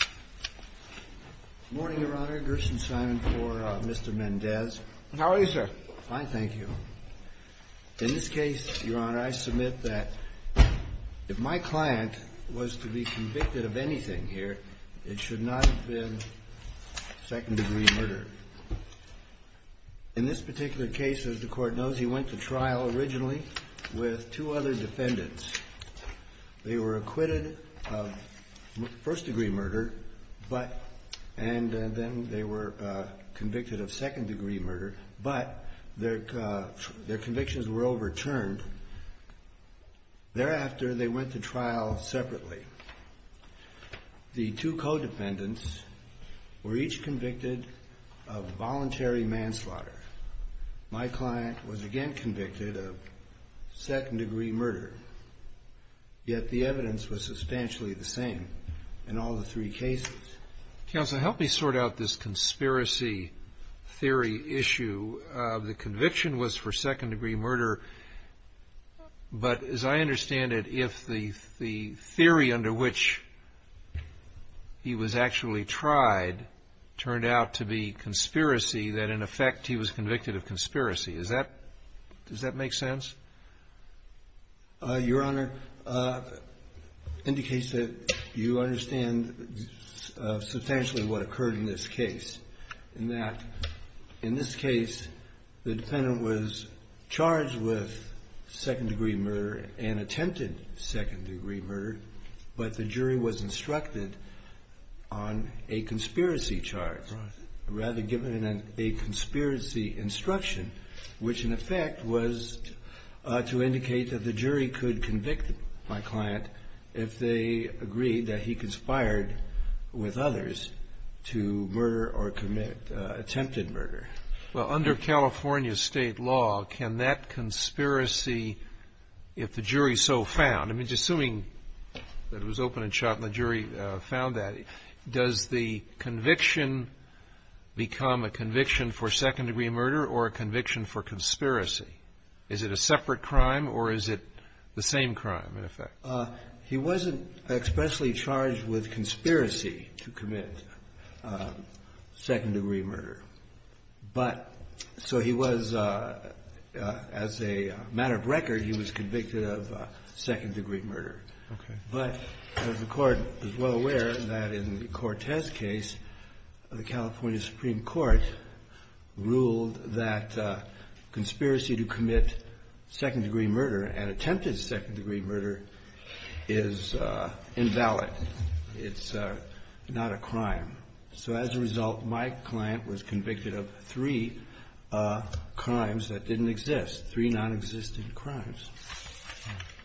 Good morning, Your Honor. Gerson Simon for Mr. Mendez. How are you, sir? Fine, thank you. In this case, Your Honor, I submit that if my client was to be convicted of anything here, it should not have been second-degree murder. In this particular case, as the Court knows, he went to trial originally with two other defendants. They were acquitted of first-degree murder, and then they were convicted of second-degree murder, but their convictions were overturned. Thereafter, they went to trial separately. The two co-defendants were each convicted of voluntary manslaughter. My client was again convicted of second-degree murder, yet the evidence was substantially the same in all the three cases. Counsel, help me sort out this conspiracy theory issue. The conviction was for second-degree murder. But as I understand it, if the theory under which he was actually tried turned out to be conspiracy, then, in effect, he was convicted of conspiracy. Does that make sense? Your Honor, it indicates that you understand substantially what occurred in this case. In this case, the defendant was charged with second-degree murder and attempted second-degree murder, but the jury was instructed on a conspiracy charge. Rather, given a conspiracy instruction, which, in effect, was to indicate that the jury could convict my client if they agreed that he conspired with others to murder or commit attempted murder. Well, under California state law, can that conspiracy, if the jury so found, I mean, just assuming that it was open and shut and the jury found that, does the conviction become a conviction for second-degree murder or a conviction for conspiracy? Is it a separate crime or is it the same crime, in effect? He wasn't expressly charged with conspiracy to commit second-degree murder. But so he was, as a matter of record, he was convicted of second-degree murder. Okay. But the Court is well aware that in the Cortez case, the California Supreme Court ruled that conspiracy to commit second-degree murder and attempted second-degree murder is invalid. It's not a crime. So as a result, my client was convicted of three crimes that didn't exist, three nonexistent crimes.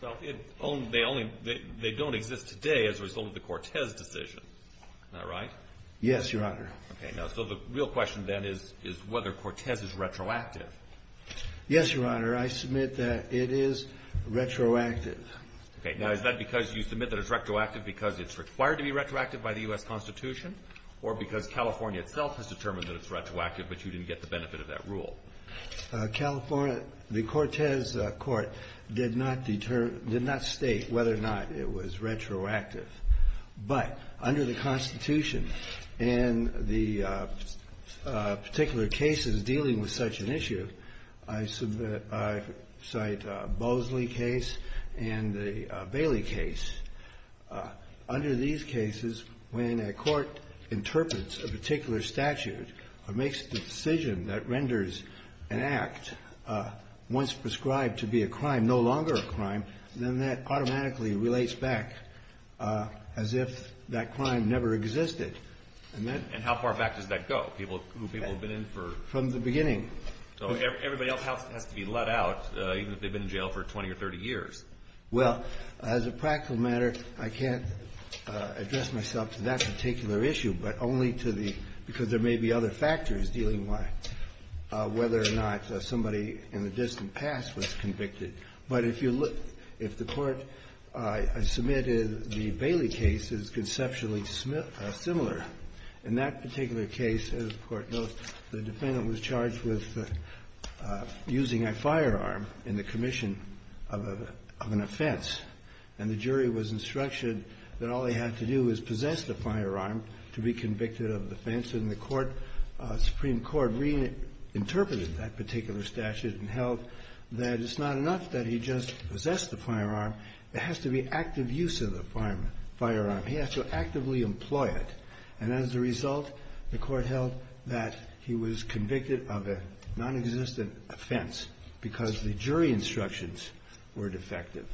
Well, they don't exist today as a result of the Cortez decision. Is that right? Yes, Your Honor. Okay. Now, so the real question, then, is whether Cortez is retroactive. Yes, Your Honor. I submit that it is retroactive. Okay. Now, is that because you submit that it's retroactive because it's required to be retroactive by the U.S. Constitution or because California itself has determined that it's retroactive but you didn't get the benefit of that rule? California, the Cortez Court, did not state whether or not it was retroactive. But under the Constitution, in the particular cases dealing with such an issue, I cite Bosley case and the Bailey case. Under these cases, when a court interprets a particular statute or makes the decision that renders an act once prescribed to be a crime no longer a crime, then that automatically relates back as if that crime never existed. And how far back does that go, people who have been in for? From the beginning. So everybody else has to be let out even if they've been in jail for 20 or 30 years. Well, as a practical matter, I can't address myself to that particular issue, but only to the, because there may be other factors dealing with whether or not somebody in the distant past was convicted. But if you look, if the court submitted the Bailey case, it's conceptually similar. In that particular case, as the Court notes, the defendant was charged with using a firearm in the commission of an offense. And the jury was instructed that all they had to do was possess the firearm to be convicted of the offense. And the Supreme Court reinterpreted that particular statute and held that it's not enough that he just possessed the firearm. There has to be active use of the firearm. He has to actively employ it. And as a result, the Court held that he was convicted of a nonexistent offense because the jury instructions were defective.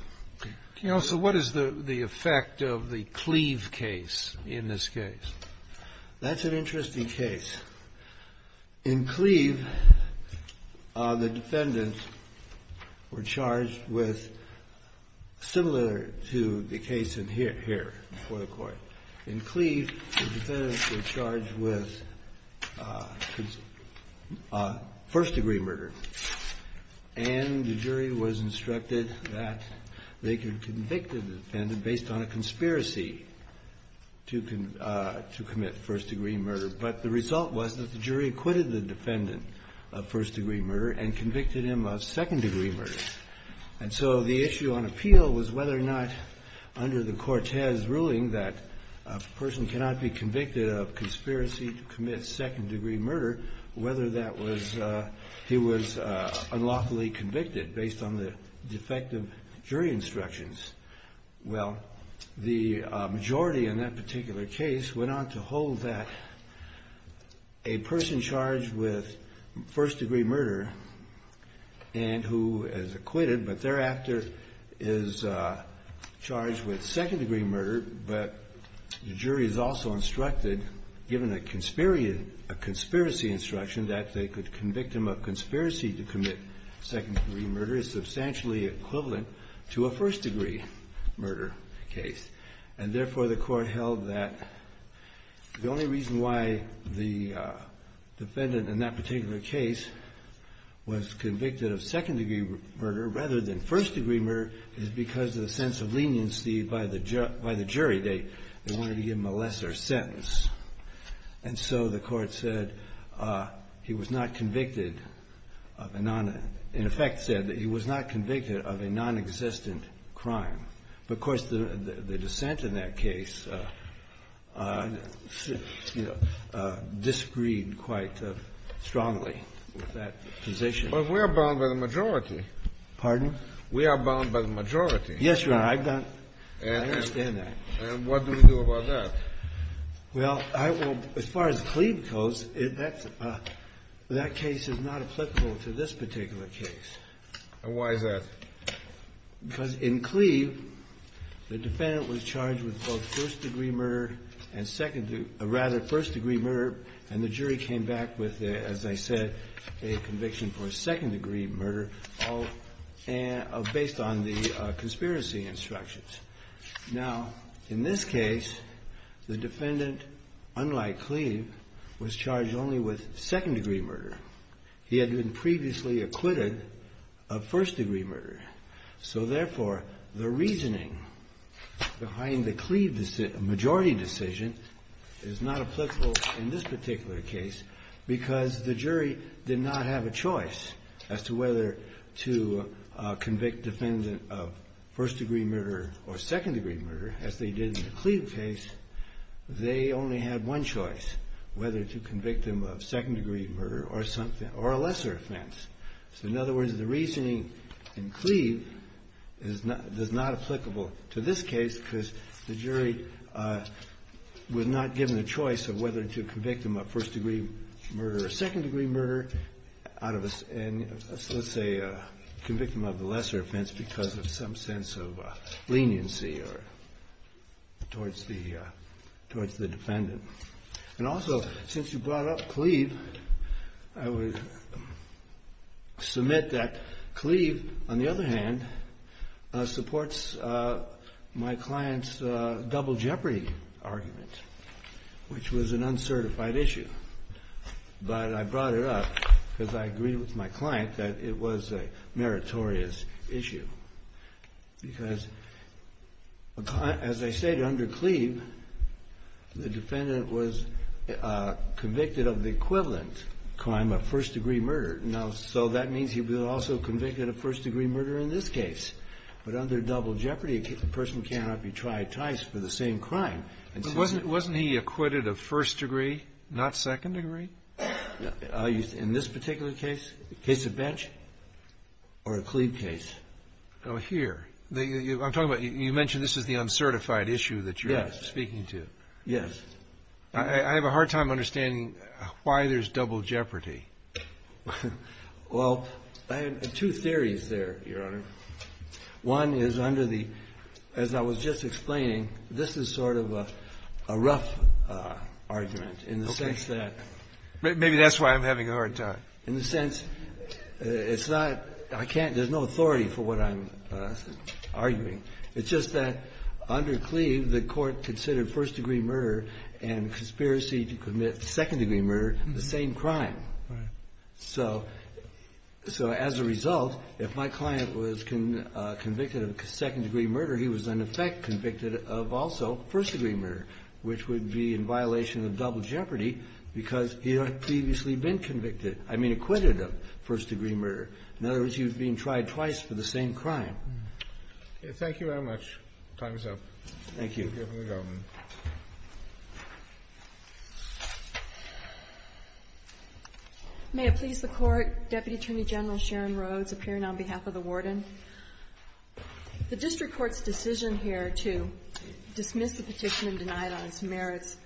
Counsel, what is the effect of the Cleve case in this case? That's an interesting case. In Cleve, the defendants were charged with similar to the case in here before the Court. In Cleve, the defendants were charged with first-degree murder. And the jury was instructed that they could convict the defendant based on a conspiracy to commit first-degree murder. But the result was that the jury acquitted the defendant of first-degree murder and convicted him of second-degree murder. And so the issue on appeal was whether or not under the Cortez ruling that a person cannot be convicted of conspiracy to commit second-degree murder, whether that was he was unlawfully convicted based on the defective jury instructions. Well, the majority in that particular case went on to hold that a person charged with first-degree murder, and who is acquitted but thereafter is charged with second-degree murder, but the jury is also instructed, given a conspiracy instruction, that they could convict him of conspiracy to commit second-degree murder is substantially equivalent to a first-degree murder case. And therefore, the Court held that the only reason why the defendant in that particular case was convicted of second-degree murder rather than first-degree murder is because of the sense of leniency by the jury. They wanted to give him a lesser sentence. And so the Court said he was not convicted of a non-in effect said that he was not convicted of a nonexistent crime. But, of course, the dissent in that case, you know, disagreed quite strongly with that position. But we are bound by the majority. Pardon? We are bound by the majority. Yes, Your Honor. I understand that. And what do we do about that? Well, as far as Cleave goes, that case is not applicable to this particular case. And why is that? Because in Cleave, the defendant was charged with both first-degree murder and second- rather, first-degree murder, and the jury came back with, as I said, a conviction for second-degree murder based on the conspiracy instructions. Now, in this case, the defendant, unlike Cleave, was charged only with second-degree murder. He had been previously acquitted of first-degree murder. So, therefore, the reasoning behind the Cleave majority decision is not applicable in this particular case because the jury did not have a choice as to whether to convict the defendant of first-degree murder or second-degree murder as they did in the Cleave case. They only had one choice, whether to convict them of second-degree murder or a lesser offense. So, in other words, the reasoning in Cleave is not applicable to this case because the jury was not given a choice of whether to convict them of first-degree murder or second-degree murder and, let's say, convict them of the lesser offense because of some sense of leniency towards the defendant. And also, since you brought up Cleave, I would submit that Cleave, on the other hand, supports my client's double jeopardy argument, which was an uncertified issue. But I brought it up because I agreed with my client that it was a meritorious issue because, as I said, under Cleave, the defendant was convicted of the equivalent crime of first-degree murder. Now, so that means he was also convicted of first-degree murder in this case. But under double jeopardy, a person cannot be tried twice for the same crime. But wasn't he acquitted of first-degree, not second-degree? In this particular case, the case of Bench or the Cleave case? Oh, here. I'm talking about you mentioned this is the uncertified issue that you're speaking to. Yes. I have a hard time understanding why there's double jeopardy. Well, I have two theories there, Your Honor. One is under the – as I was just explaining, this is sort of a rough argument in the sense that – Okay. Maybe that's why I'm having a hard time. In the sense it's not – I can't – there's no authority for what I'm arguing. It's just that under Cleave, the court considered first-degree murder and conspiracy to commit second-degree murder the same crime. Right. So as a result, if my client was convicted of second-degree murder, he was in effect convicted of also first-degree murder, which would be in violation of double jeopardy because he had previously been convicted – I mean acquitted of first-degree murder. In other words, he was being tried twice for the same crime. Thank you very much. Time is up. Thank you. Thank you, Your Honor. May it please the Court. Deputy Attorney General Sharon Rhodes appearing on behalf of the warden. The district court's decision here to dismiss the petition and deny it on its merits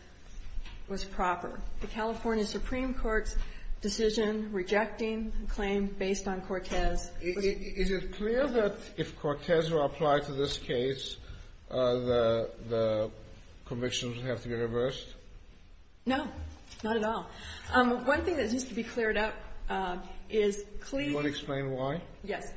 was proper. Is it clear that if Cortez were to apply to this case, the convictions would have to be reversed? No. Not at all. One thing that needs to be cleared up is Cleave – Do you want to explain why? Yes.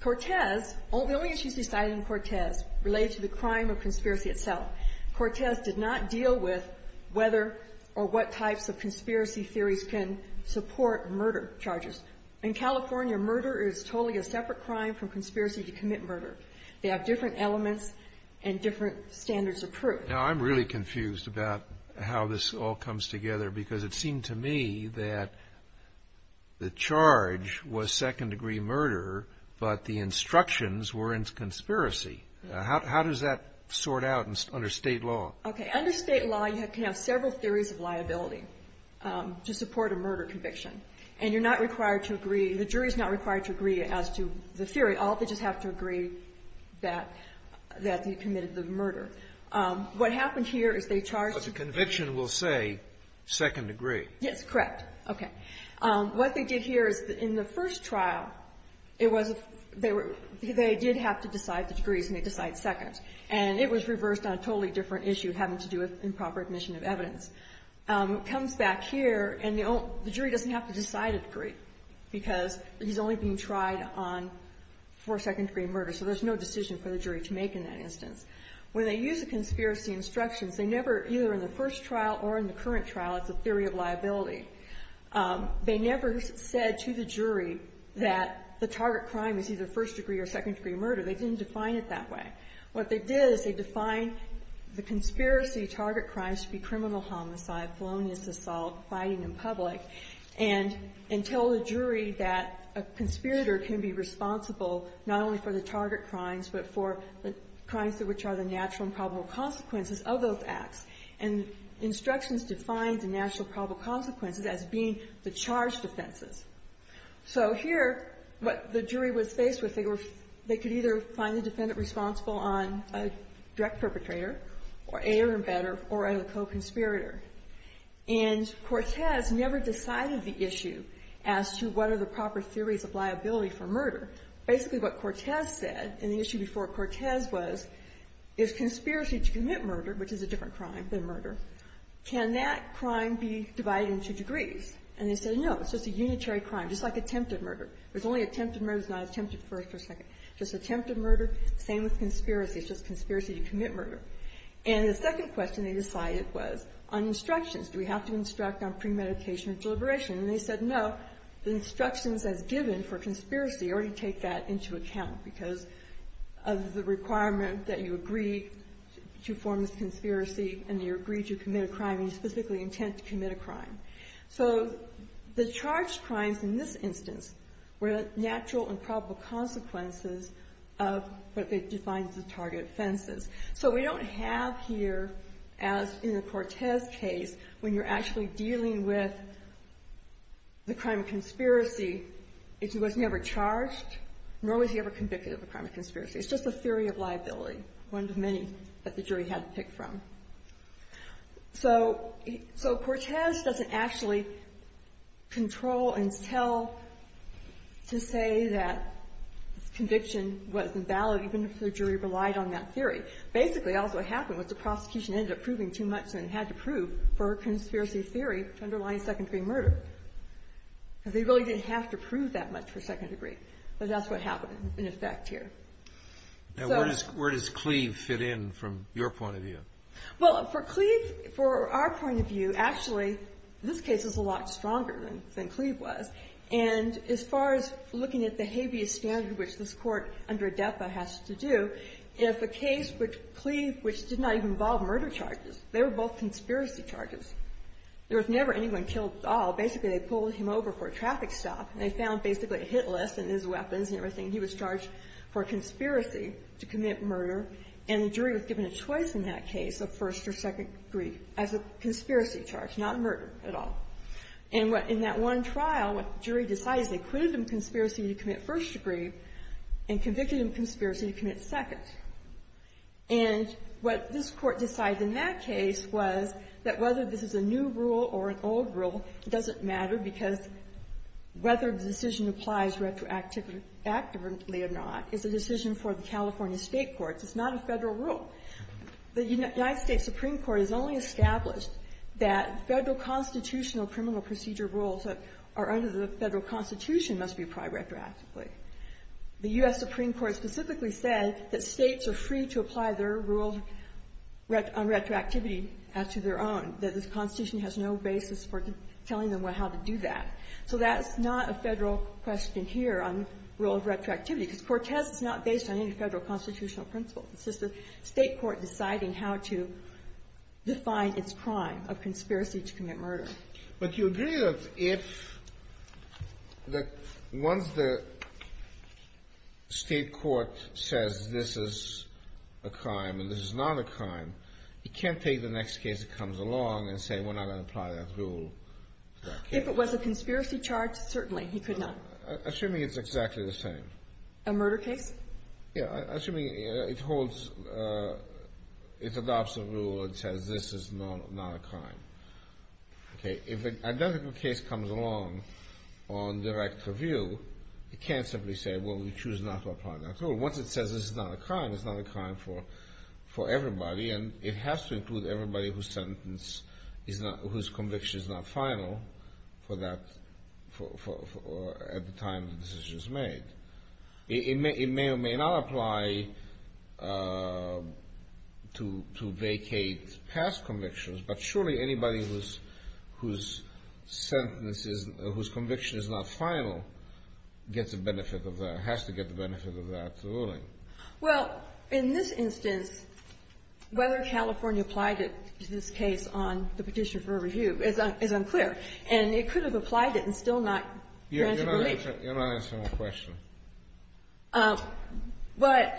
Cortez – the only issues decided in Cortez related to the crime of conspiracy itself. Cortez did not deal with whether or what types of conspiracy theories can support murder charges. In California, murder is totally a separate crime from conspiracy to commit murder. They have different elements and different standards of proof. Now, I'm really confused about how this all comes together because it seemed to me that the charge was second-degree murder, but the instructions were in conspiracy. How does that sort out under state law? Okay. Under state law, you can have several theories of liability to support a murder conviction, and you're not required to agree – the jury's not required to agree as to the theory. All they just have to agree that you committed the murder. What happened here is they charged – But the conviction will say second-degree. Yes, correct. Okay. What they did here is in the first trial, they did have to decide the degrees, and they decided second, and it was reversed on a totally different issue having to do with improper admission of evidence. It comes back here, and the jury doesn't have to decide a degree because he's only being tried on for second-degree murder, so there's no decision for the jury to make in that instance. When they use the conspiracy instructions, they never – either in the first trial or in the current trial, it's a theory of liability. They never said to the jury that the target crime is either first-degree or second-degree murder. They didn't define it that way. What they did is they defined the conspiracy target crimes to be criminal homicide, felonious assault, fighting in public, and tell the jury that a conspirator can be responsible not only for the target crimes but for the crimes which are the natural and probable consequences of those acts. And instructions defined the natural and probable consequences as being the charged offenses. So here, what the jury was faced with, they were – they could either find the defendant responsible on a direct perpetrator, or a air embedder, or a co-conspirator. And Cortez never decided the issue as to what are the proper theories of liability for murder. Basically, what Cortez said, and the issue before Cortez was, is conspiracy to commit murder, which is a different crime than murder, can that crime be divided into degrees? And they said, no, it's just a unitary crime, just like attempted murder. There's only attempted murder that's not attempted first or second. Just attempted murder, same with conspiracy. It's just conspiracy to commit murder. And the second question they decided was on instructions. Do we have to instruct on premeditation and deliberation? And they said, no, the instructions as given for conspiracy already take that into account because of the requirement that you agree to form this conspiracy and you agree to commit a crime and you specifically intend to commit a crime. So the charged crimes in this instance were natural and probable consequences of what they defined as the target offenses. So we don't have here, as in the Cortez case, when you're actually dealing with the crime of conspiracy, if he was never charged, nor was he ever convicted of a crime of conspiracy. It's just a theory of liability, one of many that the jury had to pick from. So Cortez doesn't actually control and tell to say that conviction was invalid, even if the jury relied on that theory. Basically, also what happened was the prosecution ended up proving too much than it had to prove for a conspiracy theory underlying secondary murder. They really didn't have to prove that much for second degree. But that's what happened in effect here. Where does Cleave fit in from your point of view? Well, for Cleave, for our point of view, actually, this case is a lot stronger than Cleave was. And as far as looking at the habeas standard, which this Court under ADEPA has to do, if a case with Cleave, which did not even involve murder charges, basically they pulled him over for a traffic stop. And they found basically a hit list and his weapons and everything. He was charged for conspiracy to commit murder. And the jury was given a choice in that case of first or second degree as a conspiracy charge, not murder at all. And in that one trial, what the jury decided is they acquitted him of conspiracy to commit first degree and convicted him of conspiracy to commit second. And what this Court decided in that case was that whether this is a new rule or an old rule, it doesn't matter because whether the decision applies retroactively or not is a decision for the California State courts. It's not a Federal rule. The United States Supreme Court has only established that Federal constitutional criminal procedure rules that are under the Federal Constitution must be applied retroactively. The U.S. Supreme Court specifically said that States are free to apply their rules on retroactivity as to their own. That the Constitution has no basis for telling them how to do that. So that's not a Federal question here on the rule of retroactivity because Cortez is not based on any Federal constitutional principle. It's just a State court deciding how to define its crime of conspiracy to commit murder. Kennedy. But you agree that if the ones the State court says this is a crime and this is not a crime, it can't take the next case that comes along and say we're not going to apply that rule to that case. If it was a conspiracy charge, certainly he could not. Assuming it's exactly the same. A murder case? Yeah. Assuming it holds, it adopts a rule that says this is not a crime. Okay. If an identical case comes along on direct review, it can't simply say, well, we choose not to apply that rule. Once it says this is not a crime, it's not a crime for everybody. And it has to include everybody whose conviction is not final at the time the decision is made. It may or may not apply to vacate past convictions, but surely anybody whose conviction is not Well, in this instance, whether California applied it to this case on the petition for review is unclear. And it could have applied it and still not granted relief. You're not answering my question. But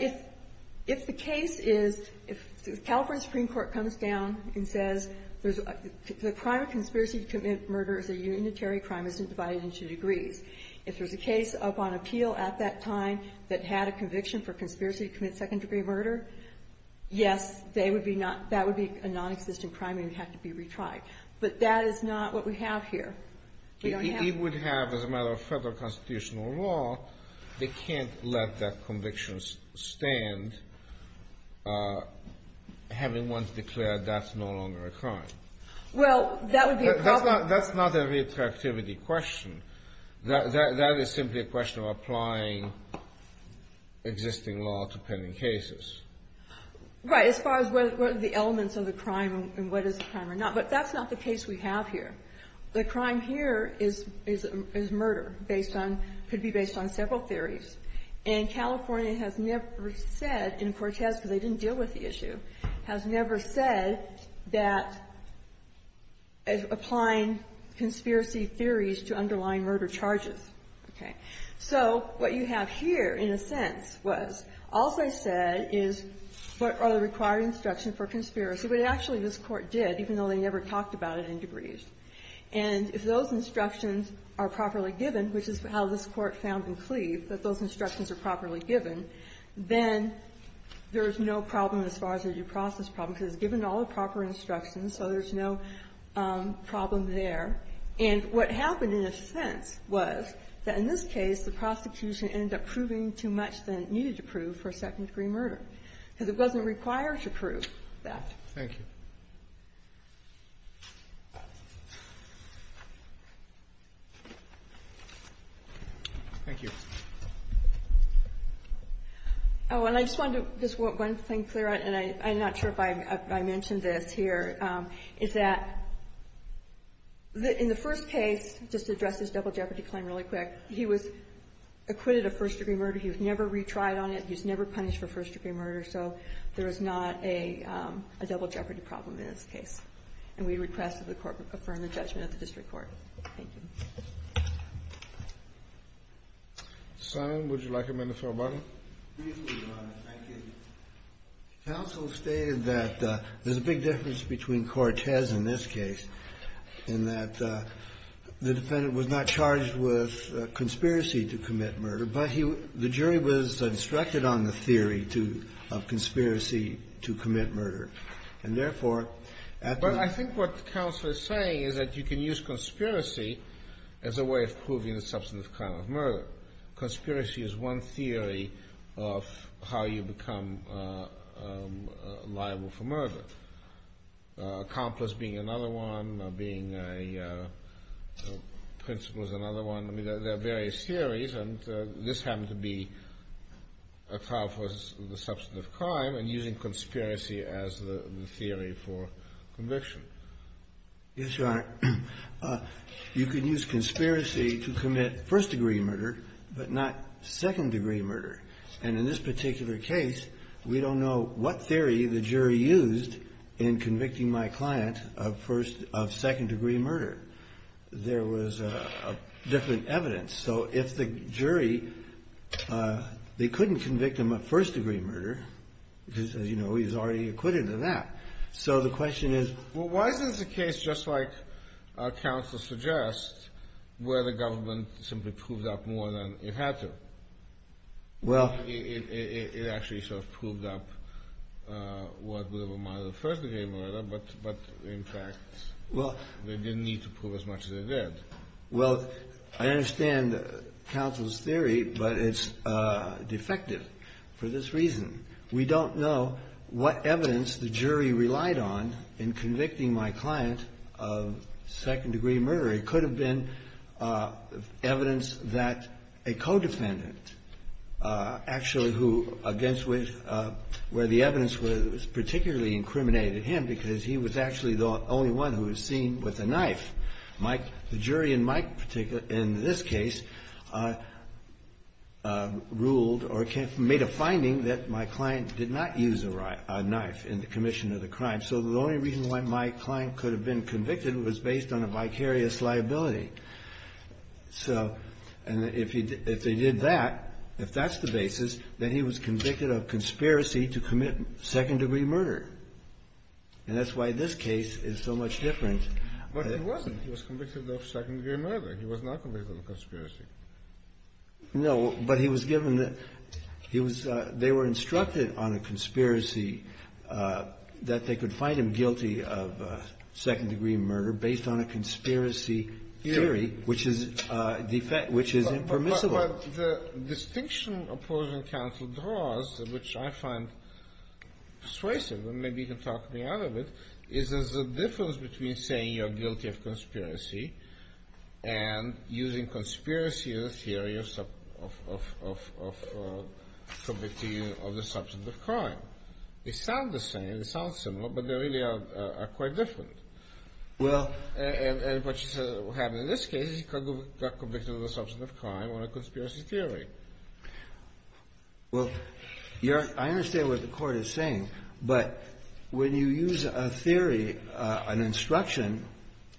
if the case is, if the California Supreme Court comes down and says the crime of conspiracy to commit murder is a unitary crime, isn't divided into degrees. If there's a case up on appeal at that time that had a conviction for conspiracy to commit second-degree murder, yes, they would be not, that would be a nonexistent crime and it would have to be retried. But that is not what we have here. We don't have It would have, as a matter of Federal constitutional law, they can't let that conviction stand having once declared that's no longer a crime. Well, that would be a problem. That's not a retroactivity question. That is simply a question of applying existing law to pending cases. Right. As far as what are the elements of the crime and what is the crime or not. But that's not the case we have here. The crime here is murder based on, could be based on several theories. And California has never said in Cortez, because they didn't deal with the issue, has never said that applying conspiracy theories to underlying murder charges. Okay. So what you have here, in a sense, was all they said is what are the required instructions for conspiracy. But actually this Court did, even though they never talked about it in degrees. And if those instructions are properly given, which is how this Court found in Cleave that those instructions are properly given, then there is no problem as far as a due process problem, because it's given all the proper instructions, so there's no problem there. And what happened, in a sense, was that in this case the prosecution ended up proving too much than it needed to prove for second degree murder, because it wasn't required to prove that. Thank you. Thank you. Oh, and I just wanted to, just one thing clear, and I'm not sure if I mentioned this here, is that in the first case, just to address this double jeopardy claim really quick, he was acquitted of first degree murder. He was never retried on it. He was never punished for first degree murder. So there is not a double jeopardy problem in this case. And we request that the Court confirm the judgment of the district court. Thank you. Simon, would you like a minute for a button? Please do, Your Honor. Thank you. Counsel stated that there's a big difference between Cortez in this case, in that the defendant was not charged with conspiracy to commit murder, but the jury was instructed on the theory of conspiracy to commit murder. But I think what counsel is saying is that you can use conspiracy as a way of proving the substantive crime of murder. Conspiracy is one theory of how you become liable for murder. Accomplice being another one, being a principle is another one. I mean, there are various theories, and this happened to be a trial for the same conspiracy as the theory for conviction. Yes, Your Honor. You can use conspiracy to commit first degree murder, but not second degree murder. And in this particular case, we don't know what theory the jury used in convicting my client of second degree murder. There was different evidence. So if the jury, they couldn't convict him of first degree murder, because, as you know, he was already acquitted of that. So the question is... Well, why is this a case, just like counsel suggests, where the government simply proved up more than it had to? Well... It actually sort of proved up what would have been my other first degree murder, but in fact, they didn't need to prove as much as they did. Well, I understand counsel's theory, but it's defective for this reason. We don't know what evidence the jury relied on in convicting my client of second degree murder. It could have been evidence that a co-defendant actually who, against which, where the evidence was particularly incriminated him because he was actually the only one who was seen with a knife. The jury in this case ruled or made a finding that my client did not use a knife in the commission of the crime. So the only reason why my client could have been convicted was based on a vicarious liability. So if they did that, if that's the basis, then he was convicted of conspiracy to commit second degree murder. And that's why this case is so much different. But he wasn't. He was convicted of second degree murder. He was not convicted of conspiracy. No, but he was given the... They were instructed on a conspiracy that they could find him guilty of second degree murder based on a conspiracy theory, which is impermissible. But the distinction opposing counsel draws, which I find persuasive, and maybe you can talk me out of it, is there's a difference between saying you're guilty of conspiracy and using conspiracy as a theory of committing another substance of crime. They sound the same. They sound similar, but they really are quite different. Well... And what you said happened in this case is he got convicted of a substance of crime on a conspiracy theory. Well, I understand what the Court is saying. But when you use a theory, an instruction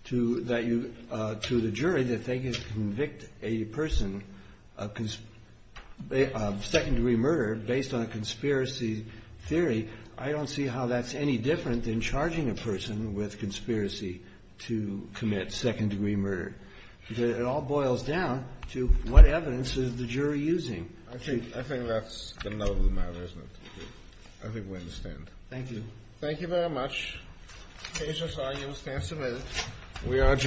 to the jury that they can convict a person of second degree murder based on a conspiracy theory, I don't see how that's any different than charging a person with conspiracy to commit second degree murder. It all boils down to what evidence is the jury using. I think that's the note of the matter, isn't it? I think we understand. Thank you. Thank you very much. Cases are used and submitted.